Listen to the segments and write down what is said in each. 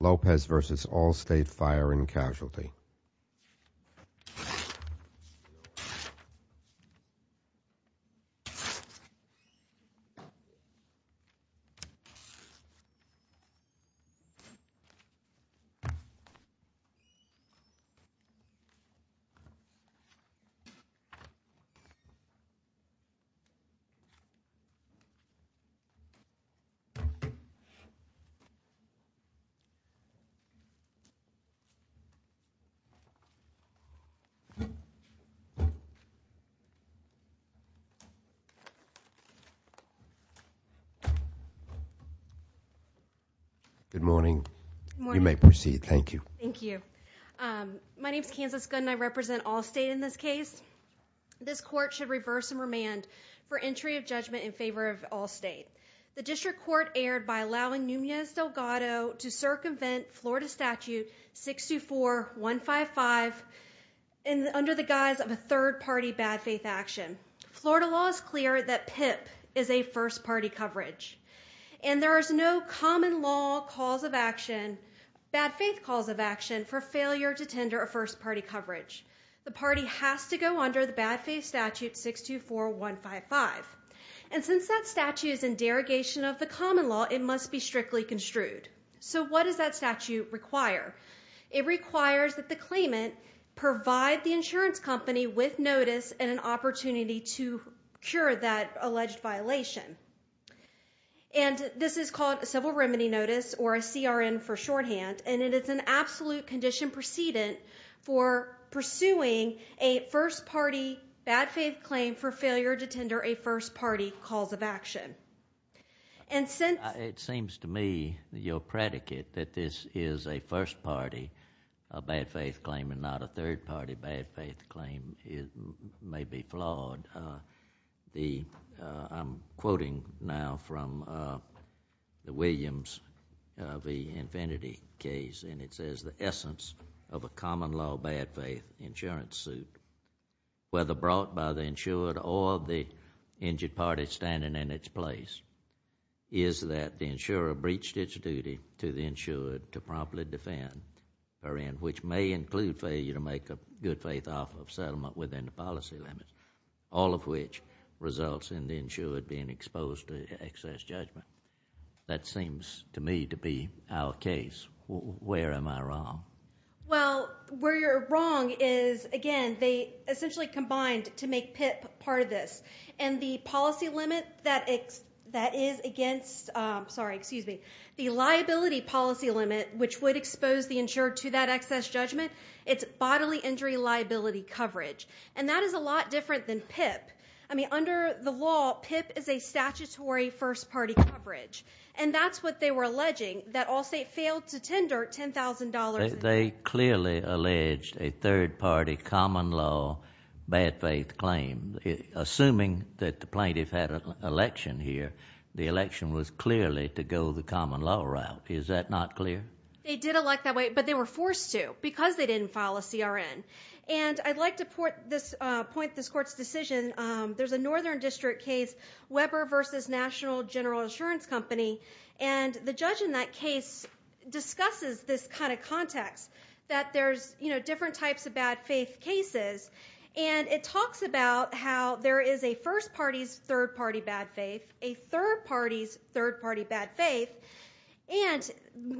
Lopez v. Allstate Fire and Casualty Good morning, you may proceed, thank you. My name is Kansas Gunn and I represent Allstate in this case. This court should reverse and remand for entry of judgment in favor of Allstate. The district court erred by allowing Núñez Delgado to circumvent Florida Statute 624155 under the guise of a third-party bad faith action. Florida law is clear that PIP is a first-party coverage, and there is no common law cause of action, bad faith cause of action, for failure to tender a first-party coverage. The party has to go under the bad faith statute 624155. And since that statute is in derogation of the common law, it must be strictly construed. So what does that statute require? It requires that the claimant provide the insurance company with notice and an opportunity to cure that alleged violation. And this is called a civil remedy notice, or a CRN for shorthand, and it is an absolute condition precedent for pursuing a first-party bad faith claim for failure to tender a first party cause of action. And since— It seems to me, your predicate, that this is a first-party bad faith claim and not a third-party bad faith claim may be flawed. I'm quoting now from the Williams v. Infinity case, and it says, the essence of a common policy party standing in its place is that the insurer breached its duty to the insured to promptly defend her end, which may include failure to make a good faith offer of settlement within the policy limits, all of which results in the insured being exposed to excess judgment. That seems to me to be our case. Where am I wrong? Well, where you're wrong is, again, they essentially combined to make PIP part of this. And the policy limit that is against—sorry, excuse me—the liability policy limit which would expose the insured to that excess judgment, it's bodily injury liability coverage. And that is a lot different than PIP. I mean, under the law, PIP is a statutory first-party coverage. And that's what they were alleging, that Allstate failed to tender $10,000— Assuming that the plaintiff had an election here, the election was clearly to go the common law route. Is that not clear? They did elect that way, but they were forced to because they didn't file a CRN. And I'd like to point this Court's decision. There's a Northern District case, Weber v. National General Insurance Company. And the judge in that case discusses this kind of context, that there's different types of bad faith cases. And it talks about how there is a first-party's third-party bad faith, a third-party's third-party bad faith, and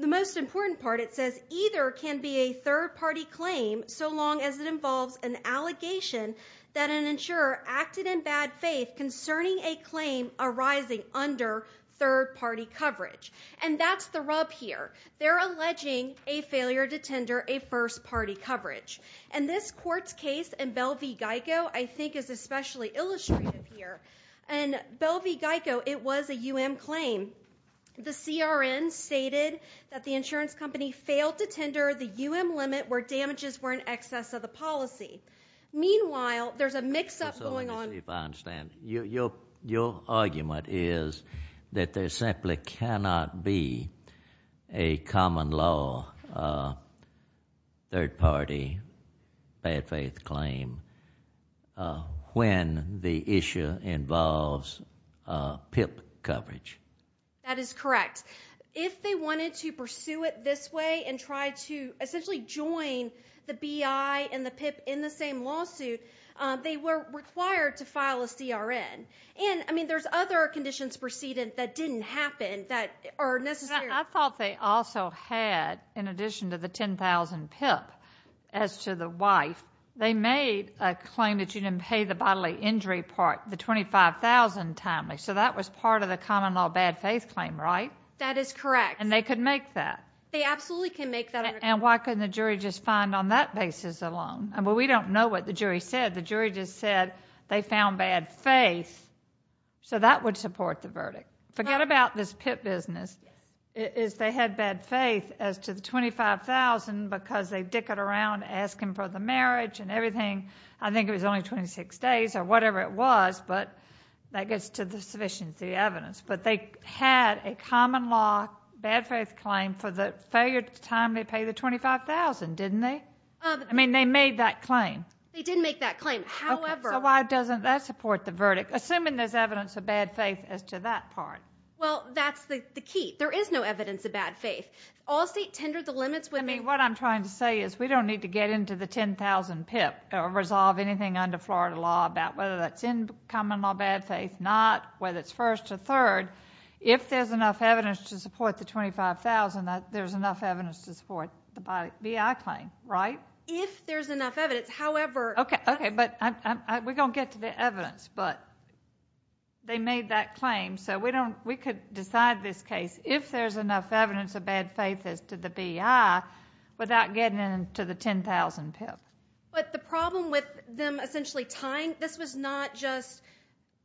the most important part, it says, either can be a third-party claim so long as it involves an allegation that an insurer acted in bad faith concerning a claim arising under third-party coverage. And that's the rub here. They're alleging a failure to tender a first-party coverage. And this Court's case in Bell v. Geico, I think, is especially illustrative here. And Bell v. Geico, it was a U.M. claim. The CRN stated that the insurance company failed to tender the U.M. limit where damages were in excess of the policy. Meanwhile, there's a mix-up going on— I don't know if I understand. Your argument is that there simply cannot be a common-law third-party bad faith claim when the issue involves PIP coverage. That is correct. If they wanted to pursue it this way and try to essentially join the BI and the PIP in they were required to file a CRN. And I mean, there's other conditions preceded that didn't happen that are necessary. I thought they also had, in addition to the $10,000 PIP, as to the wife. They made a claim that you didn't pay the bodily injury part, the $25,000 timely. So that was part of the common-law bad faith claim, right? That is correct. And they could make that? They absolutely can make that. And why couldn't the jury just find on that basis alone? We don't know what the jury said. The jury just said they found bad faith. So that would support the verdict. Forget about this PIP business. They had bad faith as to the $25,000 because they dickered around asking for the marriage and everything. I think it was only 26 days or whatever it was, but that gets to the sufficient evidence. But they had a common-law bad faith claim for the failure to timely pay the $25,000, didn't they? I mean, they made that claim. They did make that claim. However... So why doesn't that support the verdict, assuming there's evidence of bad faith as to that part? Well, that's the key. There is no evidence of bad faith. Allstate tendered the limits with... I mean, what I'm trying to say is we don't need to get into the $10,000 PIP or resolve anything under Florida law about whether that's in common-law bad faith, not whether it's first or third. If there's enough evidence to support the $25,000, there's enough evidence to support the B.I. claim, right? If there's enough evidence. However... Okay. Okay. But we're going to get to the evidence. But they made that claim, so we could decide this case, if there's enough evidence of bad faith as to the B.I., without getting into the $10,000 PIP. But the problem with them essentially tying, this was not just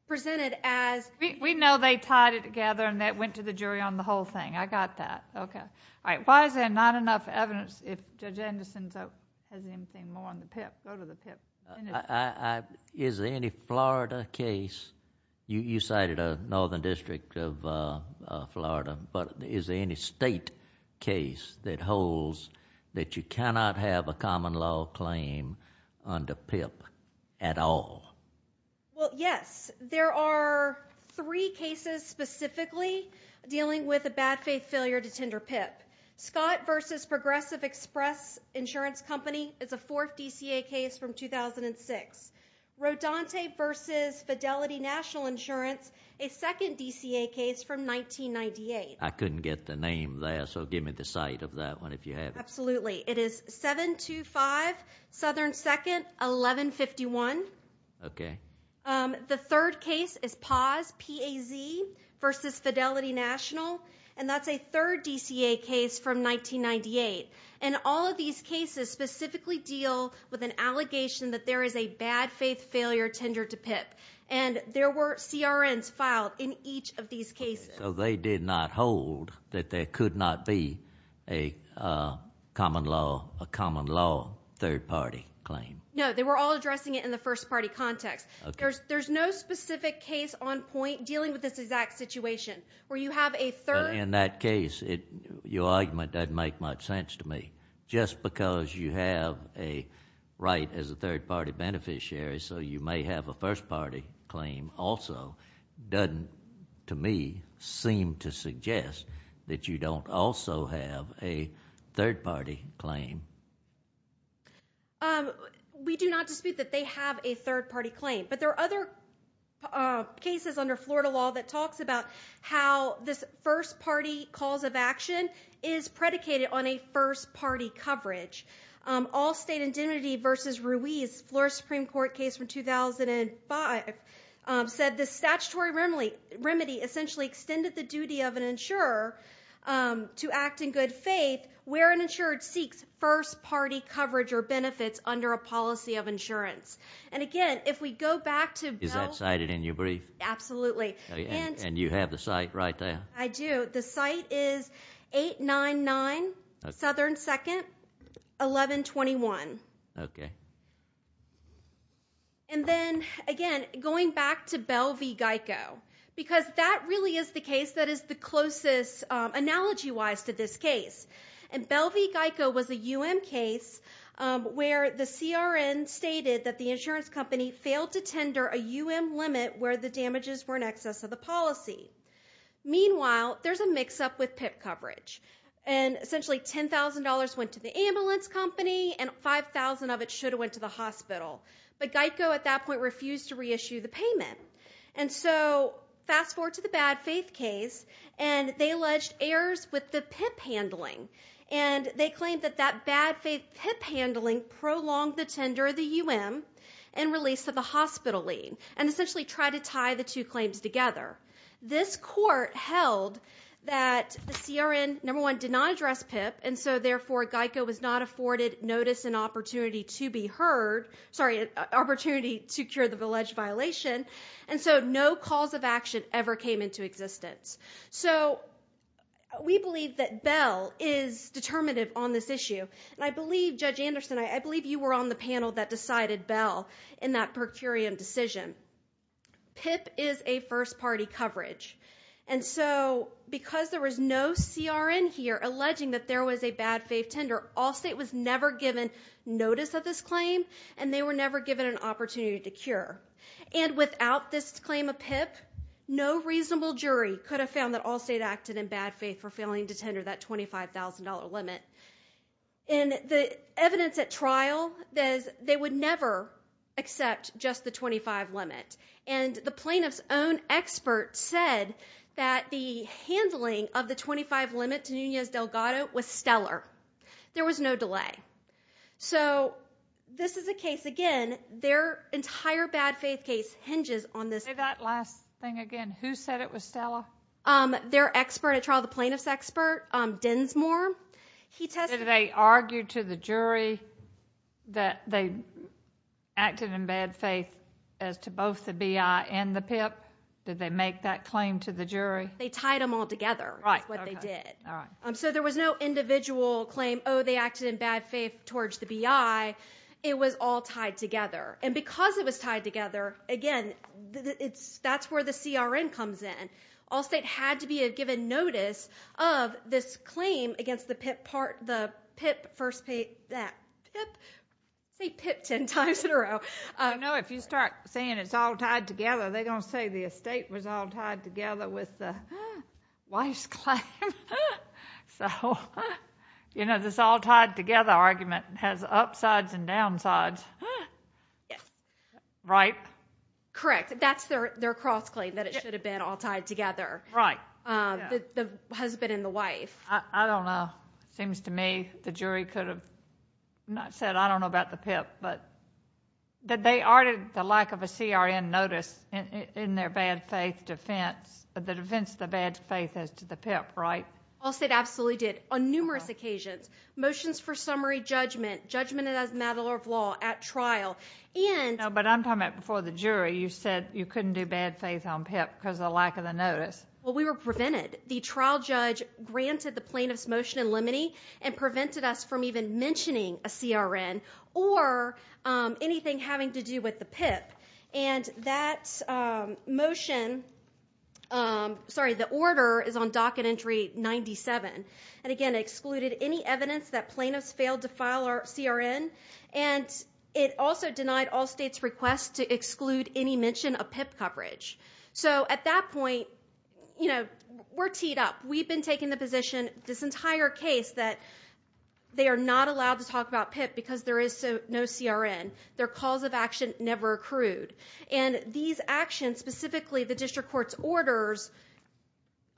presented as... We know they tied it together and that went to the jury on the whole thing. I got that. Okay. All right. If there's not enough evidence, if Judge Anderson has anything more on the PIP, go to the PIP. Is there any Florida case, you cited a northern district of Florida, but is there any state case that holds that you cannot have a common-law claim under PIP at all? Well, yes. There are three cases specifically dealing with a bad faith failure to tender PIP. Scott v. Progressive Express Insurance Company is a fourth DCA case from 2006. Rodante v. Fidelity National Insurance, a second DCA case from 1998. I couldn't get the name there, so give me the site of that one, if you have it. Absolutely. It is 725 Southern 2nd, 1151. Okay. The third case is Paz, P-A-Z, versus Fidelity National, and that's a third DCA case from 1998. And all of these cases specifically deal with an allegation that there is a bad faith failure tender to PIP. And there were CRNs filed in each of these cases. So they did not hold that there could not be a common-law third-party claim? No. They were all addressing it in the first-party context. There's no specific case on point dealing with this exact situation, where you have a third... But in that case, your argument doesn't make much sense to me. Just because you have a right as a third-party beneficiary, so you may have a first-party claim also, doesn't, to me, seem to suggest that you don't also have a third-party claim. We do not dispute that they have a third-party claim. But there are other cases under Florida law that talks about how this first-party cause of action is predicated on a first-party coverage. All State Indemnity versus Ruiz, Florida Supreme Court case from 2005, said the statutory remedy essentially extended the duty of an insurer to act in good faith where an insured seeks first-party coverage or benefits under a policy of insurance. And again, if we go back to... Is that cited in your brief? Absolutely. And you have the site right there? I do. The site is 899 Southern 2nd, 1121. And then, again, going back to Bell v. Geico, because that really is the case that is the closest analogy-wise to this case. And Bell v. Geico was a U.M. case where the CRN stated that the insurance company failed to tender a U.M. limit where the damages were in excess of the policy. Meanwhile, there's a mix-up with PIP coverage. And essentially $10,000 went to the ambulance company, and $5,000 of it should have went to the hospital. But Geico, at that point, refused to reissue the payment. And so, fast forward to the bad faith case, and they alleged errors with the PIP handling. And they claimed that that bad faith PIP handling prolonged the tender of the U.M. and release of the hospital lien, and essentially tried to tie the two claims together. This court held that the CRN, number one, did not address PIP, and so, therefore, Geico was not afforded notice and opportunity to be heard, sorry, opportunity to cure the alleged violation. And so, no cause of action ever came into existence. So, we believe that Bell is determinative on this issue. And I believe, Judge Anderson, I believe you were on the panel that decided Bell in that per curiam decision. PIP is a first-party coverage. And so, because there was no CRN here alleging that there was a bad faith tender, Allstate was never given notice of this claim, and they were never given an opportunity to cure. And without this claim of PIP, no reasonable jury could have found that Allstate acted in bad faith for failing to tender that $25,000 limit. And the evidence at trial, they would never accept just the 25 limit. And the plaintiff's own expert said that the handling of the 25 limit to Nunez-Delgado was stellar. There was no delay. So, this is a case, again, their entire bad faith case hinges on this. Say that last thing again. Who said it was stellar? Their expert at trial, the plaintiff's expert, Densmore, he testified. Did they argue to the jury that they acted in bad faith as to both the BI and the PIP? Did they make that claim to the jury? They tied them all together, is what they did. So there was no individual claim, oh, they acted in bad faith towards the BI. It was all tied together. And because it was tied together, again, that's where the CRN comes in. All state had to be given notice of this claim against the PIP part, the PIP first page, that PIP, say PIP ten times in a row. I know if you start saying it's all tied together, they're going to say the estate was all tied together with the wife's claim. So, you know, this all tied together argument has upsides and downsides. Yes. Right? Correct. That's their cross-claim, that it should have been all tied together, the husband and the wife. I don't know. It seems to me the jury could have said, I don't know about the PIP, but they argued the lack of a CRN notice in their bad faith defense, the defense of the bad faith as to the PIP, right? All state absolutely did, on numerous occasions. Motions for summary judgment, judgment as a matter of law at trial. But I'm talking about before the jury, you said you couldn't do bad faith on PIP because of the lack of the notice. Well, we were prevented. The trial judge granted the plaintiff's motion in limine and prevented us from even mentioning a CRN or anything having to do with the PIP. And that motion, sorry, the order is on docket entry 97, and again, excluded any evidence that plaintiffs failed to file a CRN. And it also denied all states' requests to exclude any mention of PIP coverage. So at that point, you know, we're teed up. We've been taking the position, this entire case, that they are not allowed to talk about PIP because there is no CRN. Their calls of action never accrued. And these actions, specifically the district court's orders,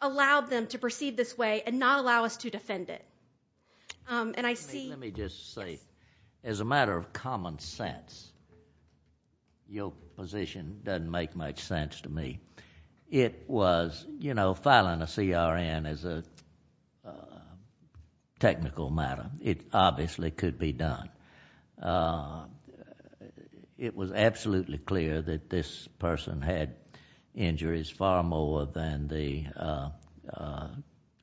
allowed them to perceive this way and not allow us to defend it. And I see... Let me just say, as a matter of common sense, your position doesn't make much sense to me. It was, you know, filing a CRN is a technical matter. It obviously could be done. It was absolutely clear that this person had injuries far more than the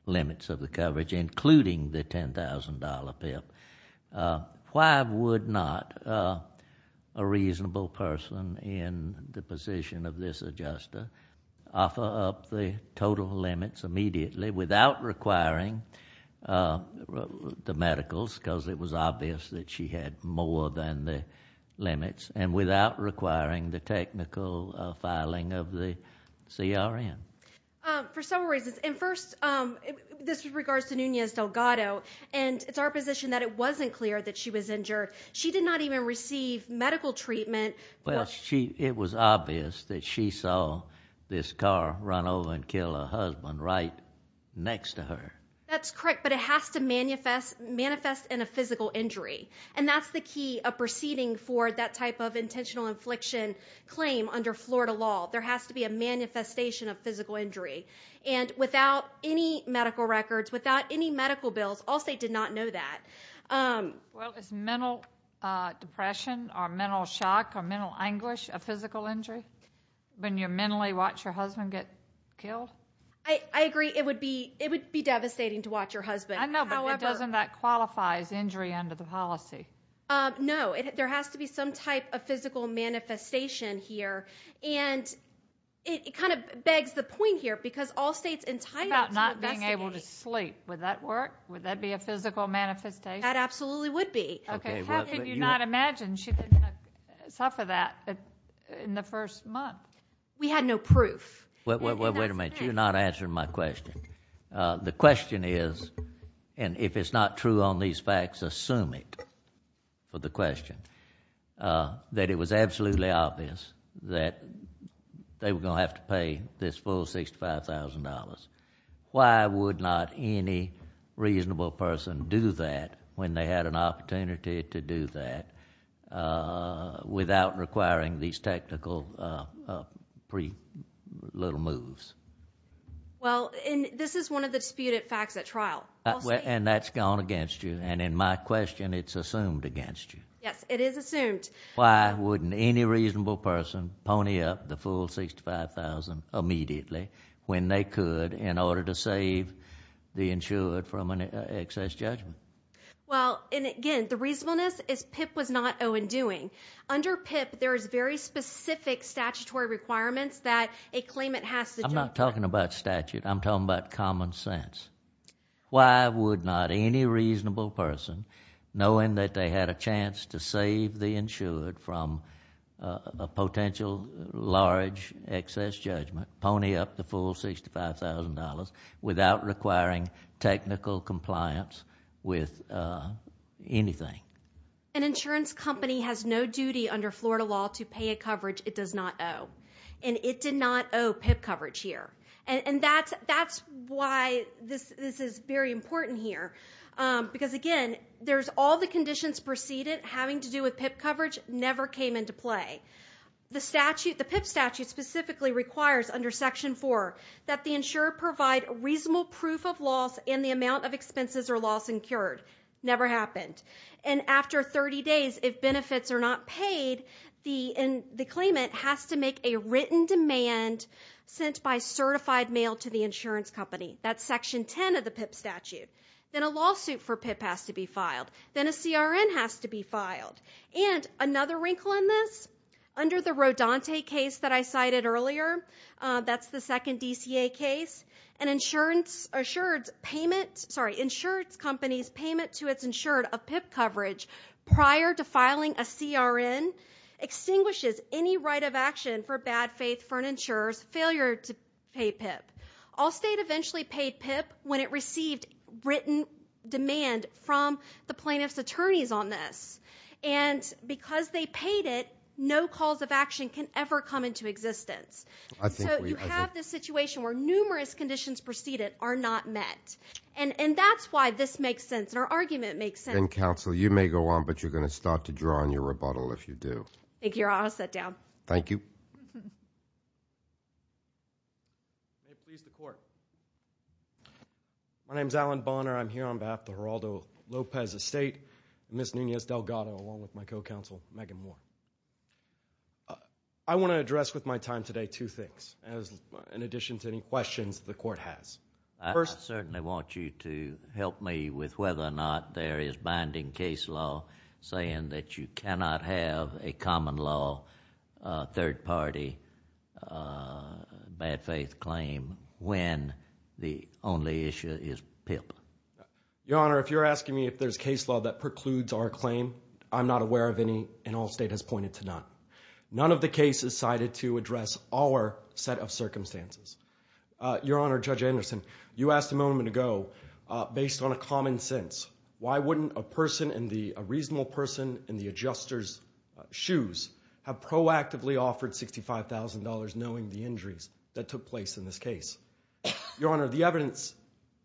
limits of the coverage, including the $10,000 PIP. Why would not a reasonable person in the position of this adjuster offer up the total limits immediately without requiring the medicals, because it was obvious that she had more than the limits, and without requiring the technical filing of the CRN? For some reasons. And first, this regards to Nunez Delgado, and it's our position that it wasn't clear that she was injured. She did not even receive medical treatment. It was obvious that she saw this car run over and kill her husband right next to her. That's correct, but it has to manifest in a physical injury. And that's the key of proceeding for that type of intentional infliction claim under Florida law. There has to be a manifestation of physical injury. And without any medical records, without any medical bills, Allstate did not know that. Well, is mental depression or mental shock or mental anguish a physical injury when you mentally watch your husband get killed? I agree. It would be devastating to watch your husband. I know, but doesn't that qualify as injury under the policy? No. There has to be some type of physical manifestation here, and it kind of begs the point here, because Allstate's entitled to investigate. What about not being able to sleep? Would that work? Would that be a physical manifestation? That absolutely would be. How could you not imagine she didn't suffer that in the first month? Wait a minute. You're not answering my question. The question is, and if it's not true on these facts, assume it for the question, that it was absolutely obvious that they were going to have to pay this full $65,000. Why would not any reasonable person do that when they had an opportunity to do that without requiring these technical little moves? Well, and this is one of the disputed facts at trial. And that's gone against you, and in my question, it's assumed against you. Yes, it is assumed. Why wouldn't any reasonable person pony up the full $65,000 immediately when they could in order to save the insured from an excess judgment? Well, and again, the reasonableness is PIP was not owe-and-doing. Under PIP, there is very specific statutory requirements that a claimant has to justify. I'm not talking about statute. I'm talking about common sense. Why would not any reasonable person, knowing that they had a chance to save the insured from a potential large excess judgment, pony up the full $65,000 without requiring technical compliance with anything? An insurance company has no duty under Florida law to pay a coverage it does not owe. And it did not owe PIP coverage here. And that's why this is very important here, because again, there's all the conditions preceded having to do with PIP coverage never came into play. The statute, the PIP statute specifically requires under Section 4 that the insured provide reasonable proof of loss in the amount of expenses or loss incurred. Never happened. And after 30 days, if benefits are not paid, the claimant has to make a written demand sent by certified mail to the insurance company. That's Section 10 of the PIP statute. Then a lawsuit for PIP has to be filed. Then a CRN has to be filed. And another wrinkle in this, under the Rodante case that I cited earlier, that's the second prior to filing a CRN extinguishes any right of action for bad faith for an insurer's failure to pay PIP. Allstate eventually paid PIP when it received written demand from the plaintiff's attorneys on this. And because they paid it, no calls of action can ever come into existence. So you have this situation where numerous conditions preceded are not met. And that's why this makes sense. And our argument makes sense. And counsel, you may go on, but you're going to start to draw on your rebuttal if you do. Thank you, Your Honor. I'll sit down. Thank you. May it please the court. My name is Alan Bonner. I'm here on behalf of the Geraldo Lopez Estate and Ms. Nunez Delgado, along with my co-counsel Megan Moore. I want to address with my time today two things, in addition to any questions the court has. First, I certainly want you to help me with whether or not there is binding case law saying that you cannot have a common law third party bad faith claim when the only issue is PIP. Your Honor, if you're asking me if there's case law that precludes our claim, I'm not aware of any, and Allstate has pointed to none. None of the cases cited to address our set of circumstances. Your Honor, Judge Anderson, you asked a moment ago, based on a common sense, why wouldn't a person, a reasonable person in the adjuster's shoes, have proactively offered $65,000 knowing the injuries that took place in this case? Your Honor, the evidence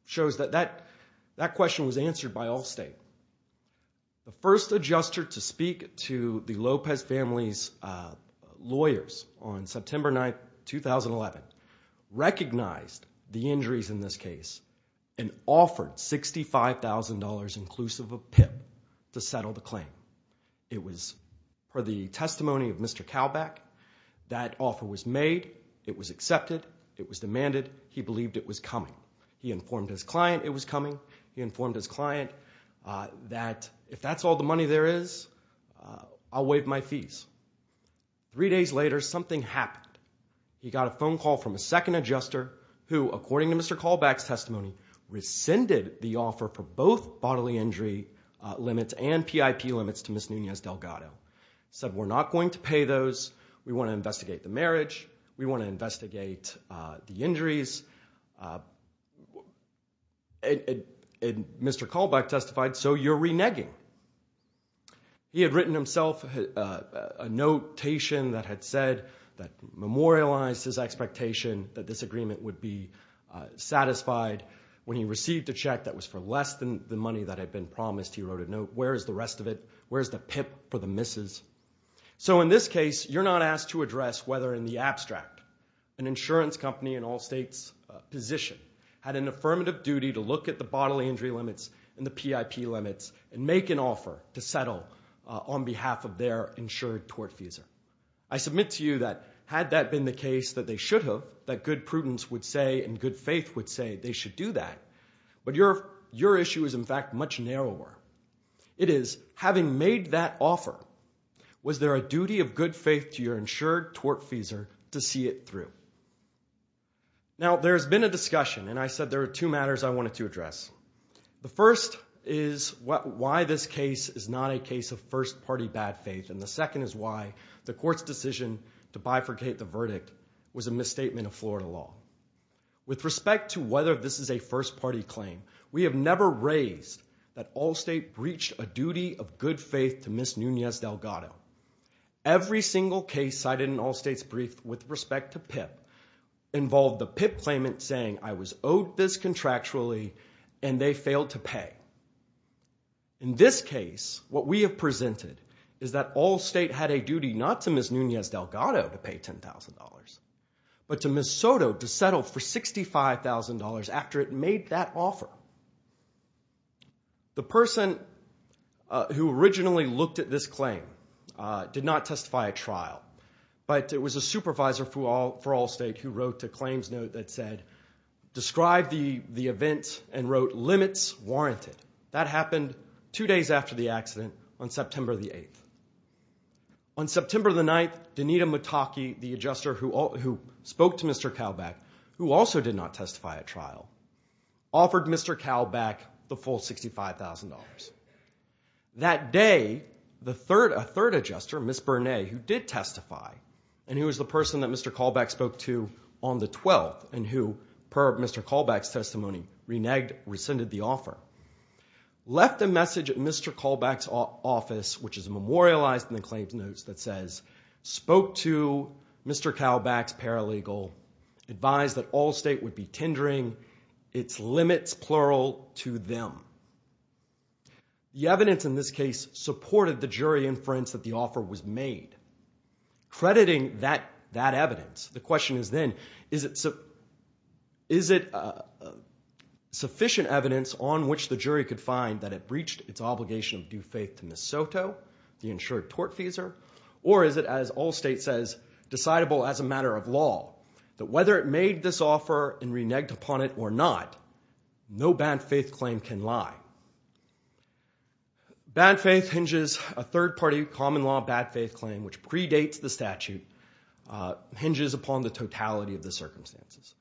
shows that that question was answered by Allstate. The first adjuster to speak to the Lopez family's lawyers on September 9, 2011, recognized the injuries in this case and offered $65,000 inclusive of PIP to settle the claim. It was for the testimony of Mr. Kalbach. That offer was made. It was accepted. It was demanded. He believed it was coming. He informed his client it was coming. He informed his client that if that's all the money there is, I'll waive my fees. Three days later, something happened. He got a phone call from a second adjuster who, according to Mr. Kalbach's testimony, rescinded the offer for both bodily injury limits and PIP limits to Ms. Nunez-Delgado. Said, we're not going to pay those. We want to investigate the marriage. We want to investigate the injuries. Mr. Kalbach testified, so you're reneging. He had written himself a notation that had said that memorialized his expectation that this agreement would be satisfied when he received a check that was for less than the money that had been promised. He wrote a note. Where is the rest of it? Where's the PIP for the misses? So in this case, you're not asked to address whether in the abstract an insurance company in all states position had an affirmative duty to look at the bodily injury limits and the PIP limits and make an offer to settle on behalf of their insured tortfeasor. I submit to you that had that been the case, that they should have, that good prudence would say and good faith would say they should do that. But your issue is, in fact, much narrower. It is, having made that offer, was there a duty of good faith to your insured tortfeasor to see it through? Now, there's been a discussion, and I said there are two matters I wanted to address. The first is why this case is not a case of first party bad faith. And the second is why the court's decision to bifurcate the verdict was a misstatement of Florida law. With respect to whether this is a first party claim, we have never raised that all state breached a duty of good faith to Miss Nunez Delgado. Every single case cited in all states briefed with respect to PIP involved the PIP claimant saying I was owed this contractually and they failed to pay. In this case, what we have presented is that all state had a duty not to Miss Nunez Delgado to pay $10,000, but to Miss Soto to settle for $65,000 after it made that offer. Now, the person who originally looked at this claim did not testify at trial, but it was a supervisor for all state who wrote a claims note that said, describe the event and wrote limits warranted. That happened two days after the accident on September the 8th. On September the 9th, Danita Motake, the adjuster who spoke to Mr. Kalbach, who also did not the full $65,000. That day, a third adjuster, Miss Bernay, who did testify and who was the person that Mr. Kalbach spoke to on the 12th and who, per Mr. Kalbach's testimony, reneged, rescinded the offer, left a message at Mr. Kalbach's office, which is memorialized in the claims notes that says, spoke to Mr. Kalbach's paralegal, advised that all state would be moral to them. The evidence in this case supported the jury inference that the offer was made. Crediting that evidence, the question is then, is it sufficient evidence on which the jury could find that it breached its obligation of due faith to Miss Soto, the insured tort feeser, or is it, as all state says, decidable as a matter of law that whether it made this claim upon it or not, no bad faith claim can lie. Bad faith hinges, a third party common law bad faith claim, which predates the statute, hinges upon the totality of the circumstances.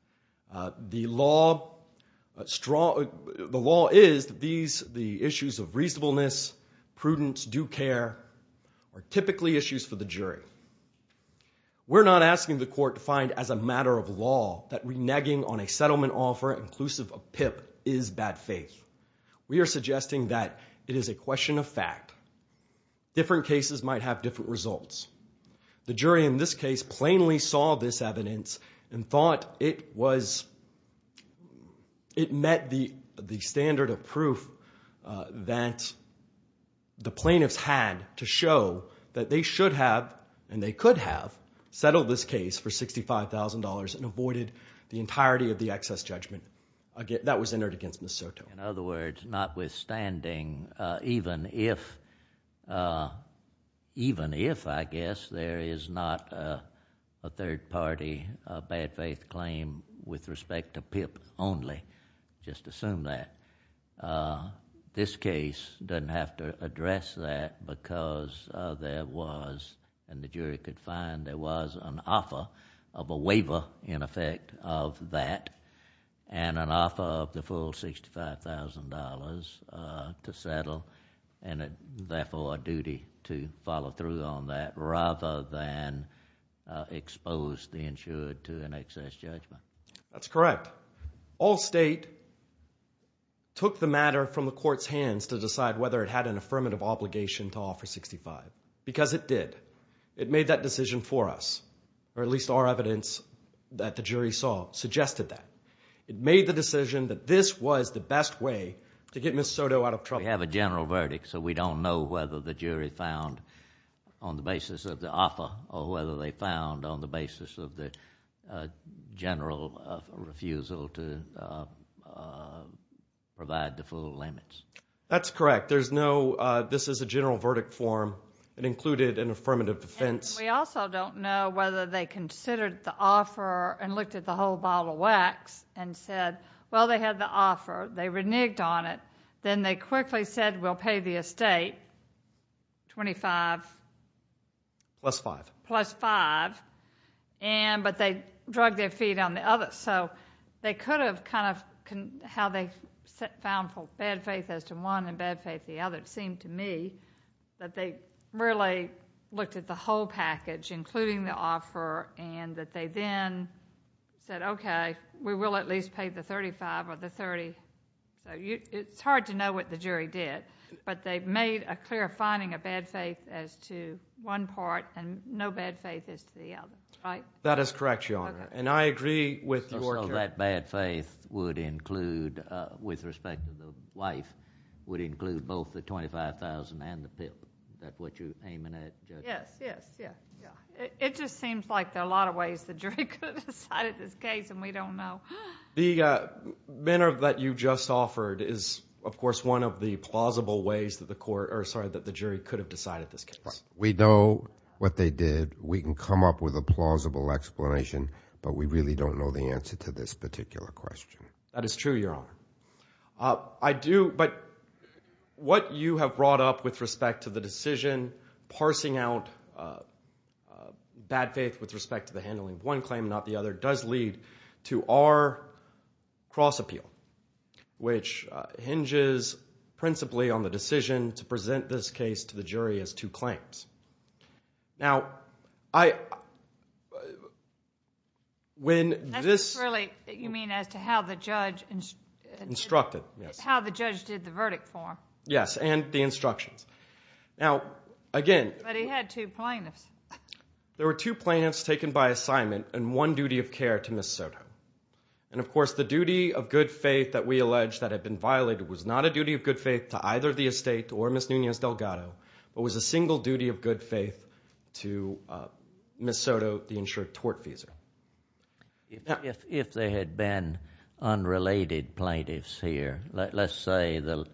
The law is that these, the issues of reasonableness, prudence, due care, are typically issues for the jury. We're not asking the court to find as a matter of law that reneging on a settlement offer inclusive of PIP is bad faith. We are suggesting that it is a question of fact. Different cases might have different results. The jury in this case plainly saw this evidence and thought it was, it met the standard of that the plaintiffs had to show that they should have and they could have settled this case for $65,000 and avoided the entirety of the excess judgment that was entered against Miss Soto. In other words, notwithstanding, even if, even if, I guess, there is not a third party bad faith claim with respect to PIP only, just assume that. Uh, this case doesn't have to address that because there was, and the jury could find, there was an offer of a waiver in effect of that and an offer of the full $65,000 to settle and therefore a duty to follow through on that rather than expose the insured to an excess judgment. That's correct. All state took the matter from the court's hands to decide whether it had an affirmative obligation to offer $65,000 because it did. It made that decision for us, or at least our evidence that the jury saw suggested that. It made the decision that this was the best way to get Miss Soto out of trouble. We have a general verdict, so we don't know whether the jury found on the basis of the basis of the general refusal to provide the full limits. That's correct. There's no, this is a general verdict form. It included an affirmative defense. We also don't know whether they considered the offer and looked at the whole bottle of wax and said, well, they had the offer. They reneged on it. Then they quickly said, we'll pay the estate $25,000. Plus $5,000. Plus $5,000, but they drug their feet on the other. So they could have kind of, how they found for bad faith as to one and bad faith the other. It seemed to me that they really looked at the whole package including the offer and that they then said, okay, we will at least pay the $35,000 or the $30,000. So it's hard to know what the jury did, but they've made a clear finding of bad faith as to one part and no bad faith as to the other, right? That is correct, Your Honor. I agree with your... So that bad faith would include, with respect to the wife, would include both the $25,000 and the pimp. Is that what you're aiming at, Judge? Yes, yes, yes. It just seems like there are a lot of ways the jury could have decided this case and we don't know. The manner that you just offered is, of course, one of the plausible ways that the court, or sorry, that the jury could have decided this case. We know what they did. We can come up with a plausible explanation, but we really don't know the answer to this particular question. That is true, Your Honor. I do, but what you have brought up with respect to the decision, parsing out bad faith with respect to the handling of one claim, not the other, does lead to our cross appeal, which hinges principally on the decision to present this case to the jury as two claims. Now, when this... That's really, you mean, as to how the judge... Instructed, yes. How the judge did the verdict for him. Yes, and the instructions. Now, again... But he had two plaintiffs. There were two plaintiffs taken by assignment and one duty of care to Ms. Soto. And, of course, the duty of good faith that we allege that had been violated was not a duty of good faith to either the estate or Ms. Nunez-Delgado, but was a single duty of good faith to Ms. Soto, the insured tortfeasor. If there had been unrelated plaintiffs here, let's say that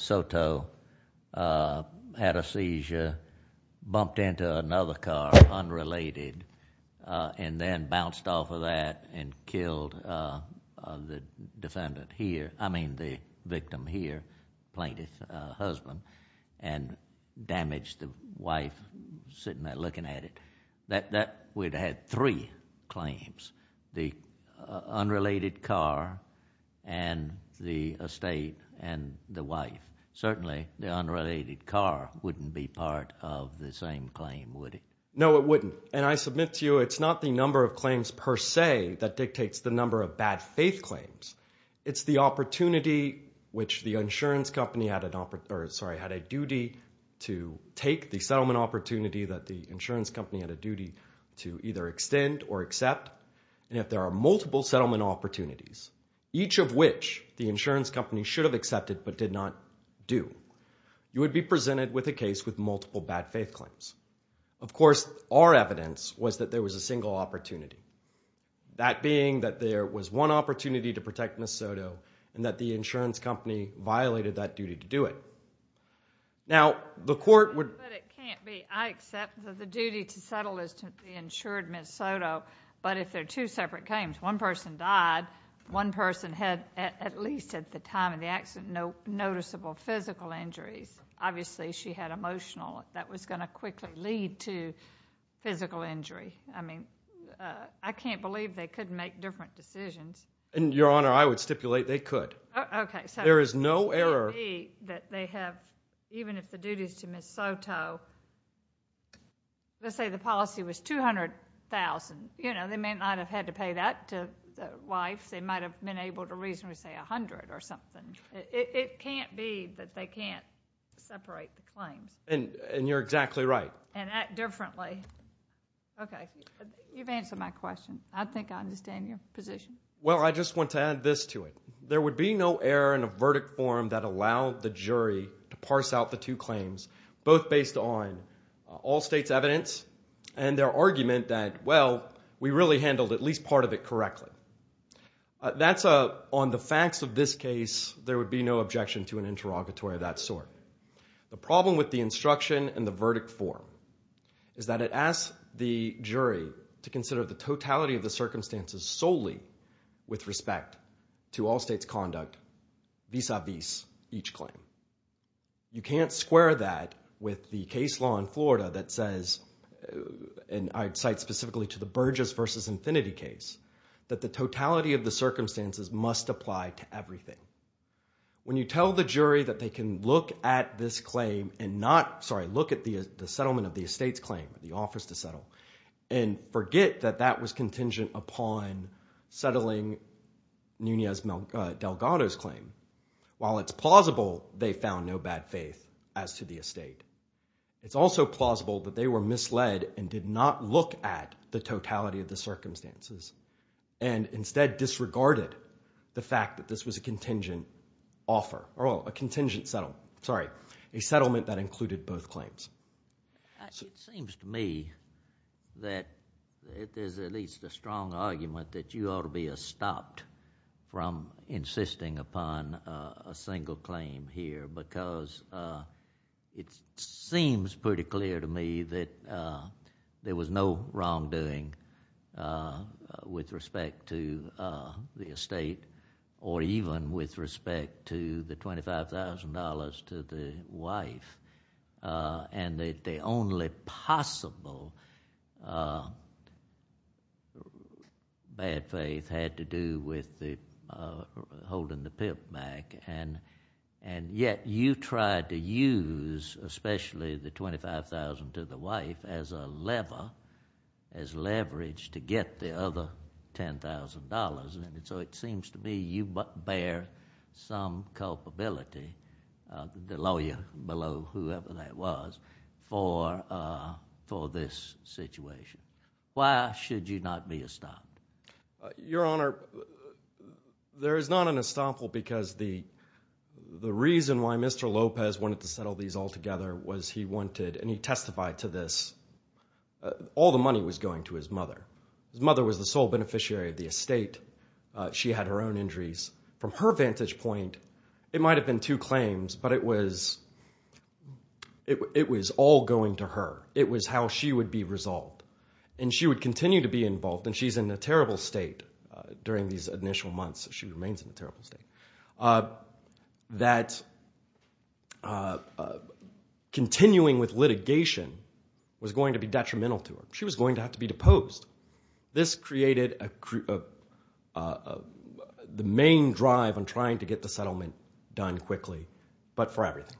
Soto had a seizure, bumped into another car, unrelated, and then bounced off of that and killed the defendant here, I mean the victim here, plaintiff's husband, and damaged the wife sitting there looking at it, that would have had three claims, the unrelated car and the estate and the wife. Certainly, the unrelated car wouldn't be part of the same claim, would it? No, it wouldn't. And I submit to you, it's not the number of claims per se that dictates the number of bad faith claims. It's the opportunity which the insurance company had a duty to take, the settlement opportunity that the insurance company had a duty to either extend or accept. And if there are multiple settlement opportunities, each of which the insurance company should have accepted but did not do, you would be presented with a case with multiple bad faith claims. Of course, our evidence was that there was a single opportunity, that being that there was one opportunity to protect Ms. Soto and that the insurance company violated that duty to do it. Now, the court would— But it can't be. I accept that the duty to settle is to be insured Ms. Soto, but if they're two separate claims, one person died, one person had, at least at the time of the accident, no noticeable physical injuries. Obviously, she had emotional. That was going to quickly lead to physical injury. I mean, I can't believe they could make different decisions. And, Your Honor, I would stipulate they could. Okay. There is no error— Even if the duty is to Ms. Soto, let's say the policy was $200,000, you know, they may not have had to pay that to the wife. They might have been able to reasonably say $100,000 or something. It can't be that they can't separate the claims. And you're exactly right. And act differently. Okay. You've answered my question. I think I understand your position. Well, I just want to add this to it. There would be no error in a verdict form that allowed the jury to parse out the two claims, both based on all state's evidence and their argument that, well, we really handled at least part of it correctly. That's a— On the facts of this case, there would be no objection to an interrogatory of that sort. The problem with the instruction and the verdict form is that it asks the jury to consider the totality of the circumstances solely with respect to all state's conduct vis-a-vis each claim. You can't square that with the case law in Florida that says, and I'd cite specifically to the Burgess versus Infinity case, that the totality of the circumstances must apply to everything. When you tell the jury that they can look at this claim and not— Sorry, look at the estate's claim, the offers to settle, and forget that that was contingent upon settling Nunez-Delgado's claim. While it's plausible they found no bad faith as to the estate, it's also plausible that they were misled and did not look at the totality of the circumstances and instead disregarded the fact that this was a contingent offer, or a contingent settle. Sorry, a settlement that included both claims. It seems to me that there's at least a strong argument that you ought to be stopped from insisting upon a single claim here because it seems pretty clear to me that there was no wrongdoing with respect to the estate or even with respect to the $25,000 to the wife. The only possible bad faith had to do with holding the pimp back, and yet you tried to use especially the $25,000 to the wife as a lever, as leverage to get the other $10,000. So it seems to me you bear some culpability, the lawyer below, whoever that was, for this situation. Why should you not be stopped? Your Honor, there is not an estoppel because the reason why Mr. Lopez wanted to settle these altogether was he wanted, and he testified to this, all the money was going to his mother. His mother was the sole beneficiary of the estate. She had her own injuries. From her vantage point, it might have been two claims, but it was all going to her. It was how she would be resolved, and she would continue to be involved, and she's in a terrible state during these initial months. She remains in a terrible state. That continuing with litigation was going to be detrimental to her. She was going to have to be deposed. This created the main drive on trying to get the settlement done quickly, but for everything.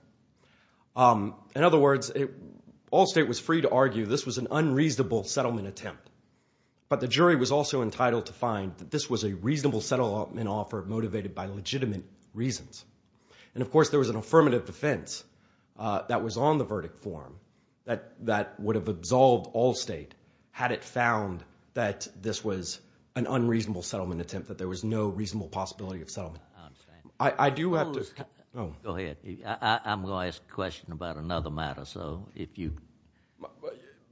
In other words, Allstate was free to argue this was an unreasonable settlement attempt, but the jury was also entitled to find that this was a reasonable settlement offer motivated by legitimate reasons. Of course, there was an affirmative defense that was on the verdict form that would have resolved Allstate had it found that this was an unreasonable settlement attempt, that there was no reasonable possibility of settlement. I understand. I do have to... Go ahead. I'm going to ask a question about another matter.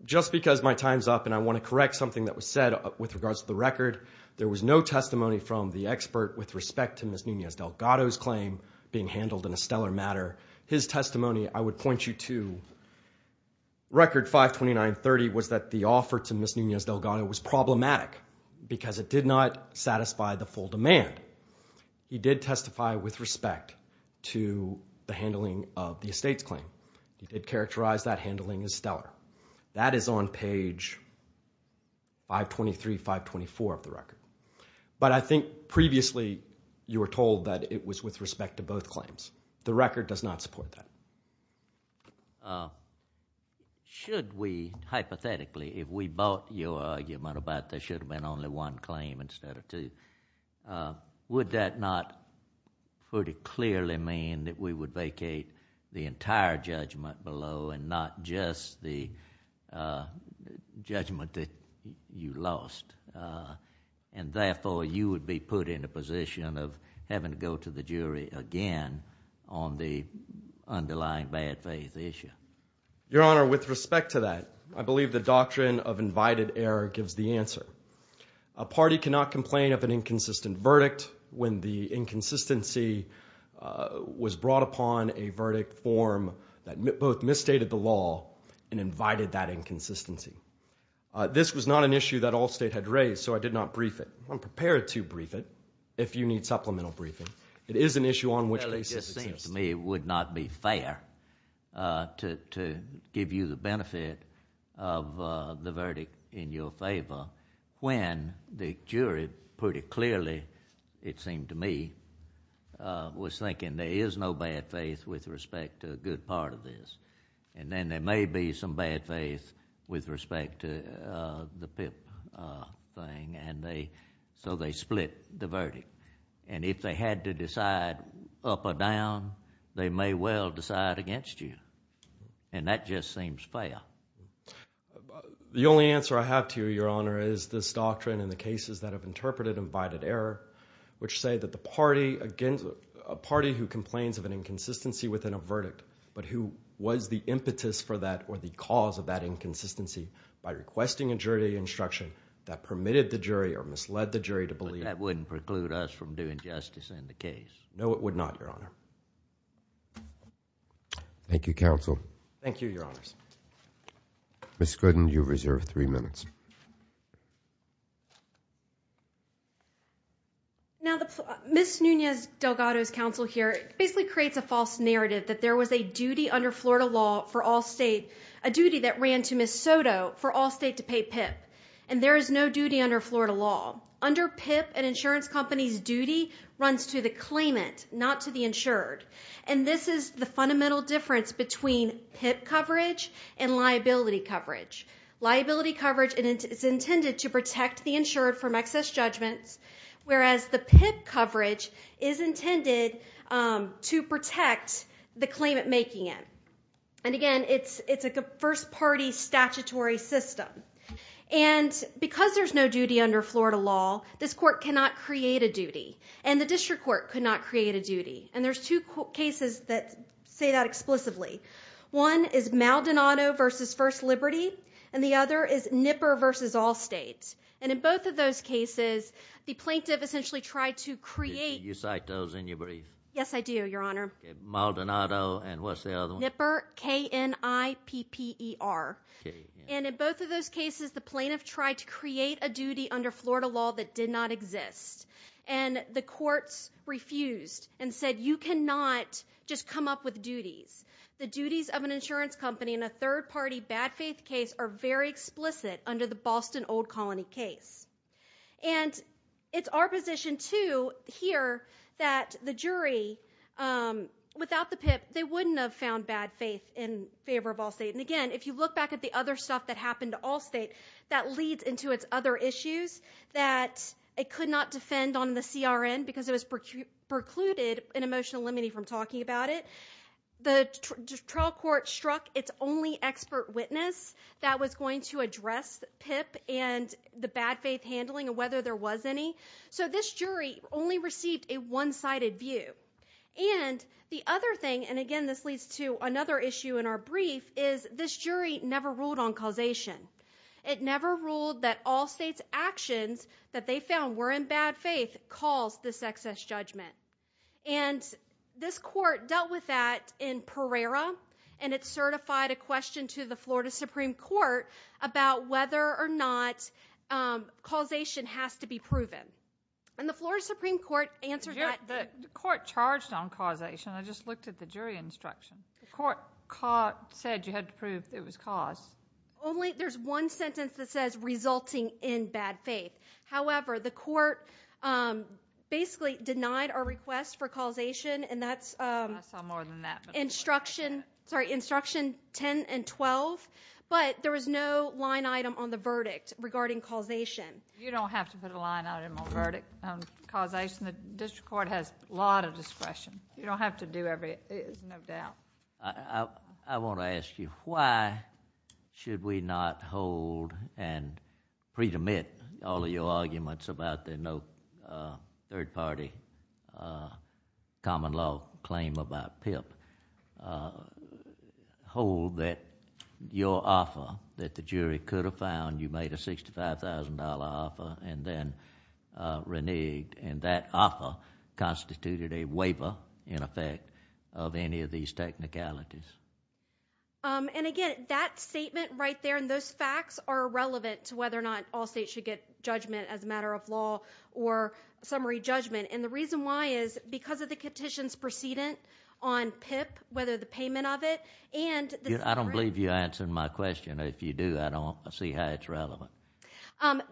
Just because my time's up and I want to correct something that was said with regards to the record, there was no testimony from the expert with respect to Ms. Nunez-Delgado's claim being handled in a stellar matter. His testimony, I would point you to record 52930 was that the offer to Ms. Nunez-Delgado was problematic because it did not satisfy the full demand. He did testify with respect to the handling of the estate's claim. He did characterize that handling as stellar. That is on page 523, 524 of the record, but I think previously you were told that it was with respect to both claims. The record does not support that. Should we, hypothetically, if we bought your argument about there should have been only one claim instead of two, would that not pretty clearly mean that we would vacate the entire judgment below and not just the judgment that you lost and therefore you would be put in a position of having to go to the jury again on the underlying bad faith issue? Your Honor, with respect to that, I believe the doctrine of invited error gives the answer. A party cannot complain of an inconsistent verdict when the inconsistency was brought upon a verdict form that both misstated the law and invited that inconsistency. This was not an issue that all state had raised, so I did not brief it. I'm prepared to brief it if you need supplemental briefing. It is an issue on which basis it seems to me it would not be fair to give you the benefit of the verdict in your favor when the jury pretty clearly, it seemed to me, was thinking there is no bad faith with respect to a good part of this and then there may be some bad faith with respect to the PIP thing and so they split the verdict and if they had to decide up or down, they may well decide against you and that just seems fair. The only answer I have to you, Your Honor, is this doctrine and the cases that have interpreted invited error which say that a party who complains of an inconsistency within a verdict but who was the impetus for that or the cause of that inconsistency by requesting a jury instruction that permitted the jury or misled the jury to believe. But that wouldn't preclude us from doing justice in the case. No, it would not, Your Honor. Thank you, counsel. Thank you, Your Honors. Ms. Gooden, you reserve three minutes. Now, Ms. Nunez-Delgado's counsel here basically creates a false narrative that there was a duty under Florida law for all state, a duty that ran to Ms. Soto for all state to pay PIP and there is no duty under Florida law. Under PIP, an insurance company's duty runs to the claimant, not to the insured and this is the fundamental difference between PIP coverage and liability coverage. Liability coverage is intended to protect the insured from excess judgments whereas the PIP coverage is intended to protect the claimant making it. And again, it's a first-party statutory system. And because there's no duty under Florida law, this court cannot create a duty and the district court could not create a duty. And there's two cases that say that explicitly. One is Maldonado v. First Liberty and the other is Nipper v. All States. And in both of those cases, the plaintiff essentially tried to create. You cite those in your brief. Yes, I do, Your Honor. Maldonado and what's the other one? Nipper, K-N-I-P-P-E-R. And in both of those cases, the plaintiff tried to create a duty under Florida law that did not exist and the courts refused and said you cannot just come up with duties. The duties of an insurance company in a third-party bad faith case are very explicit under the case. And it's our position too here that the jury, without the PIP, they wouldn't have found bad faith in favor of Allstate. And again, if you look back at the other stuff that happened to Allstate, that leads into its other issues that it could not defend on the CRN because it was precluded in emotional limiting from talking about it. The trial court struck its only expert witness that was going to address PIP and the bad faith handling and whether there was any. So this jury only received a one-sided view. And the other thing, and again, this leads to another issue in our brief, is this jury never ruled on causation. It never ruled that Allstate's actions that they found were in bad faith caused this excess judgment. And this court dealt with that in Pereira, and it certified a question to the Florida Supreme Court about whether or not causation has to be proven. And the Florida Supreme Court answered that. The court charged on causation. I just looked at the jury instruction. The court said you had to prove it was caused. Only there's one sentence that says resulting in bad faith. However, the court basically denied our request for causation. And that's instruction 10 and 12. But there was no line item on the verdict regarding causation. You don't have to put a line item on verdict causation. The district court has a lot of discretion. You don't have to do every, no doubt. I want to ask you, why should we not hold and pre-demit all of your arguments about the no third party common law claim about PIP? Hold that your offer that the jury could have found, you made a $65,000 offer and then constituted a waiver in effect of any of these technicalities. And again, that statement right there and those facts are irrelevant to whether or not all states should get judgment as a matter of law or summary judgment. And the reason why is because of the petition's precedent on PIP, whether the payment of it. And I don't believe you answered my question. If you do, I don't see how it's relevant.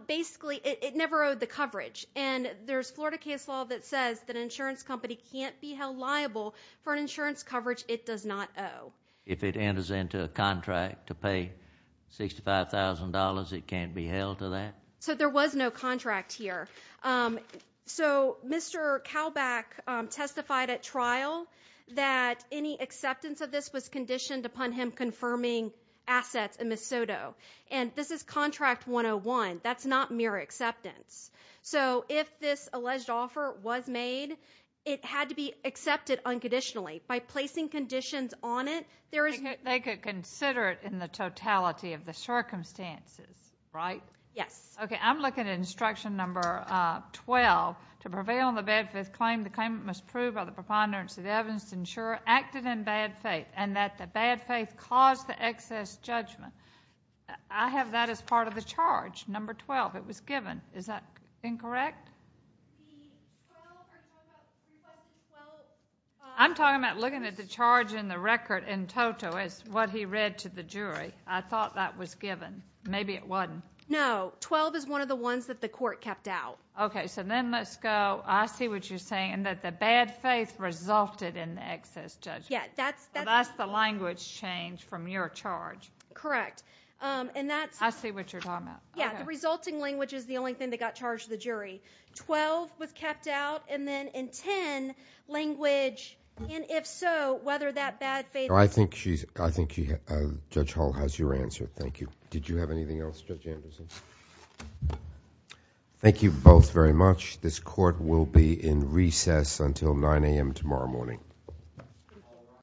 Basically, it never owed the coverage. And there's Florida case law that says that an insurance company can't be held liable for an insurance coverage it does not owe. If it enters into a contract to pay $65,000, it can't be held to that? So there was no contract here. So Mr. Kalbach testified at trial that any acceptance of this was conditioned upon him confirming assets in Miss Soto. And this is contract 101. That's not mere acceptance. So if this alleged offer was made, it had to be accepted unconditionally. By placing conditions on it, there is- They could consider it in the totality of the circumstances, right? Yes. Okay, I'm looking at instruction number 12. To prevail on the bad faith claim, the claimant must prove by the preponderance of evidence to ensure acted in bad faith and that the bad faith caused the excess judgment. I have that as part of the charge. Number 12, it was given. Is that incorrect? I'm talking about looking at the charge in the record in total as what he read to the jury. I thought that was given. Maybe it wasn't. No. 12 is one of the ones that the court kept out. Okay, so then let's go. I see what you're saying. And that the bad faith resulted in the excess judgment. Yeah, that's- That's the language change from your charge. Correct. And that's- I see what you're talking about. The resulting language is the only thing that got charged to the jury. 12 was kept out, and then in 10, language, and if so, whether that bad faith- I think Judge Hall has your answer. Thank you. Did you have anything else, Judge Anderson? Thank you both very much. This court will be in recess until 9 a.m. tomorrow morning.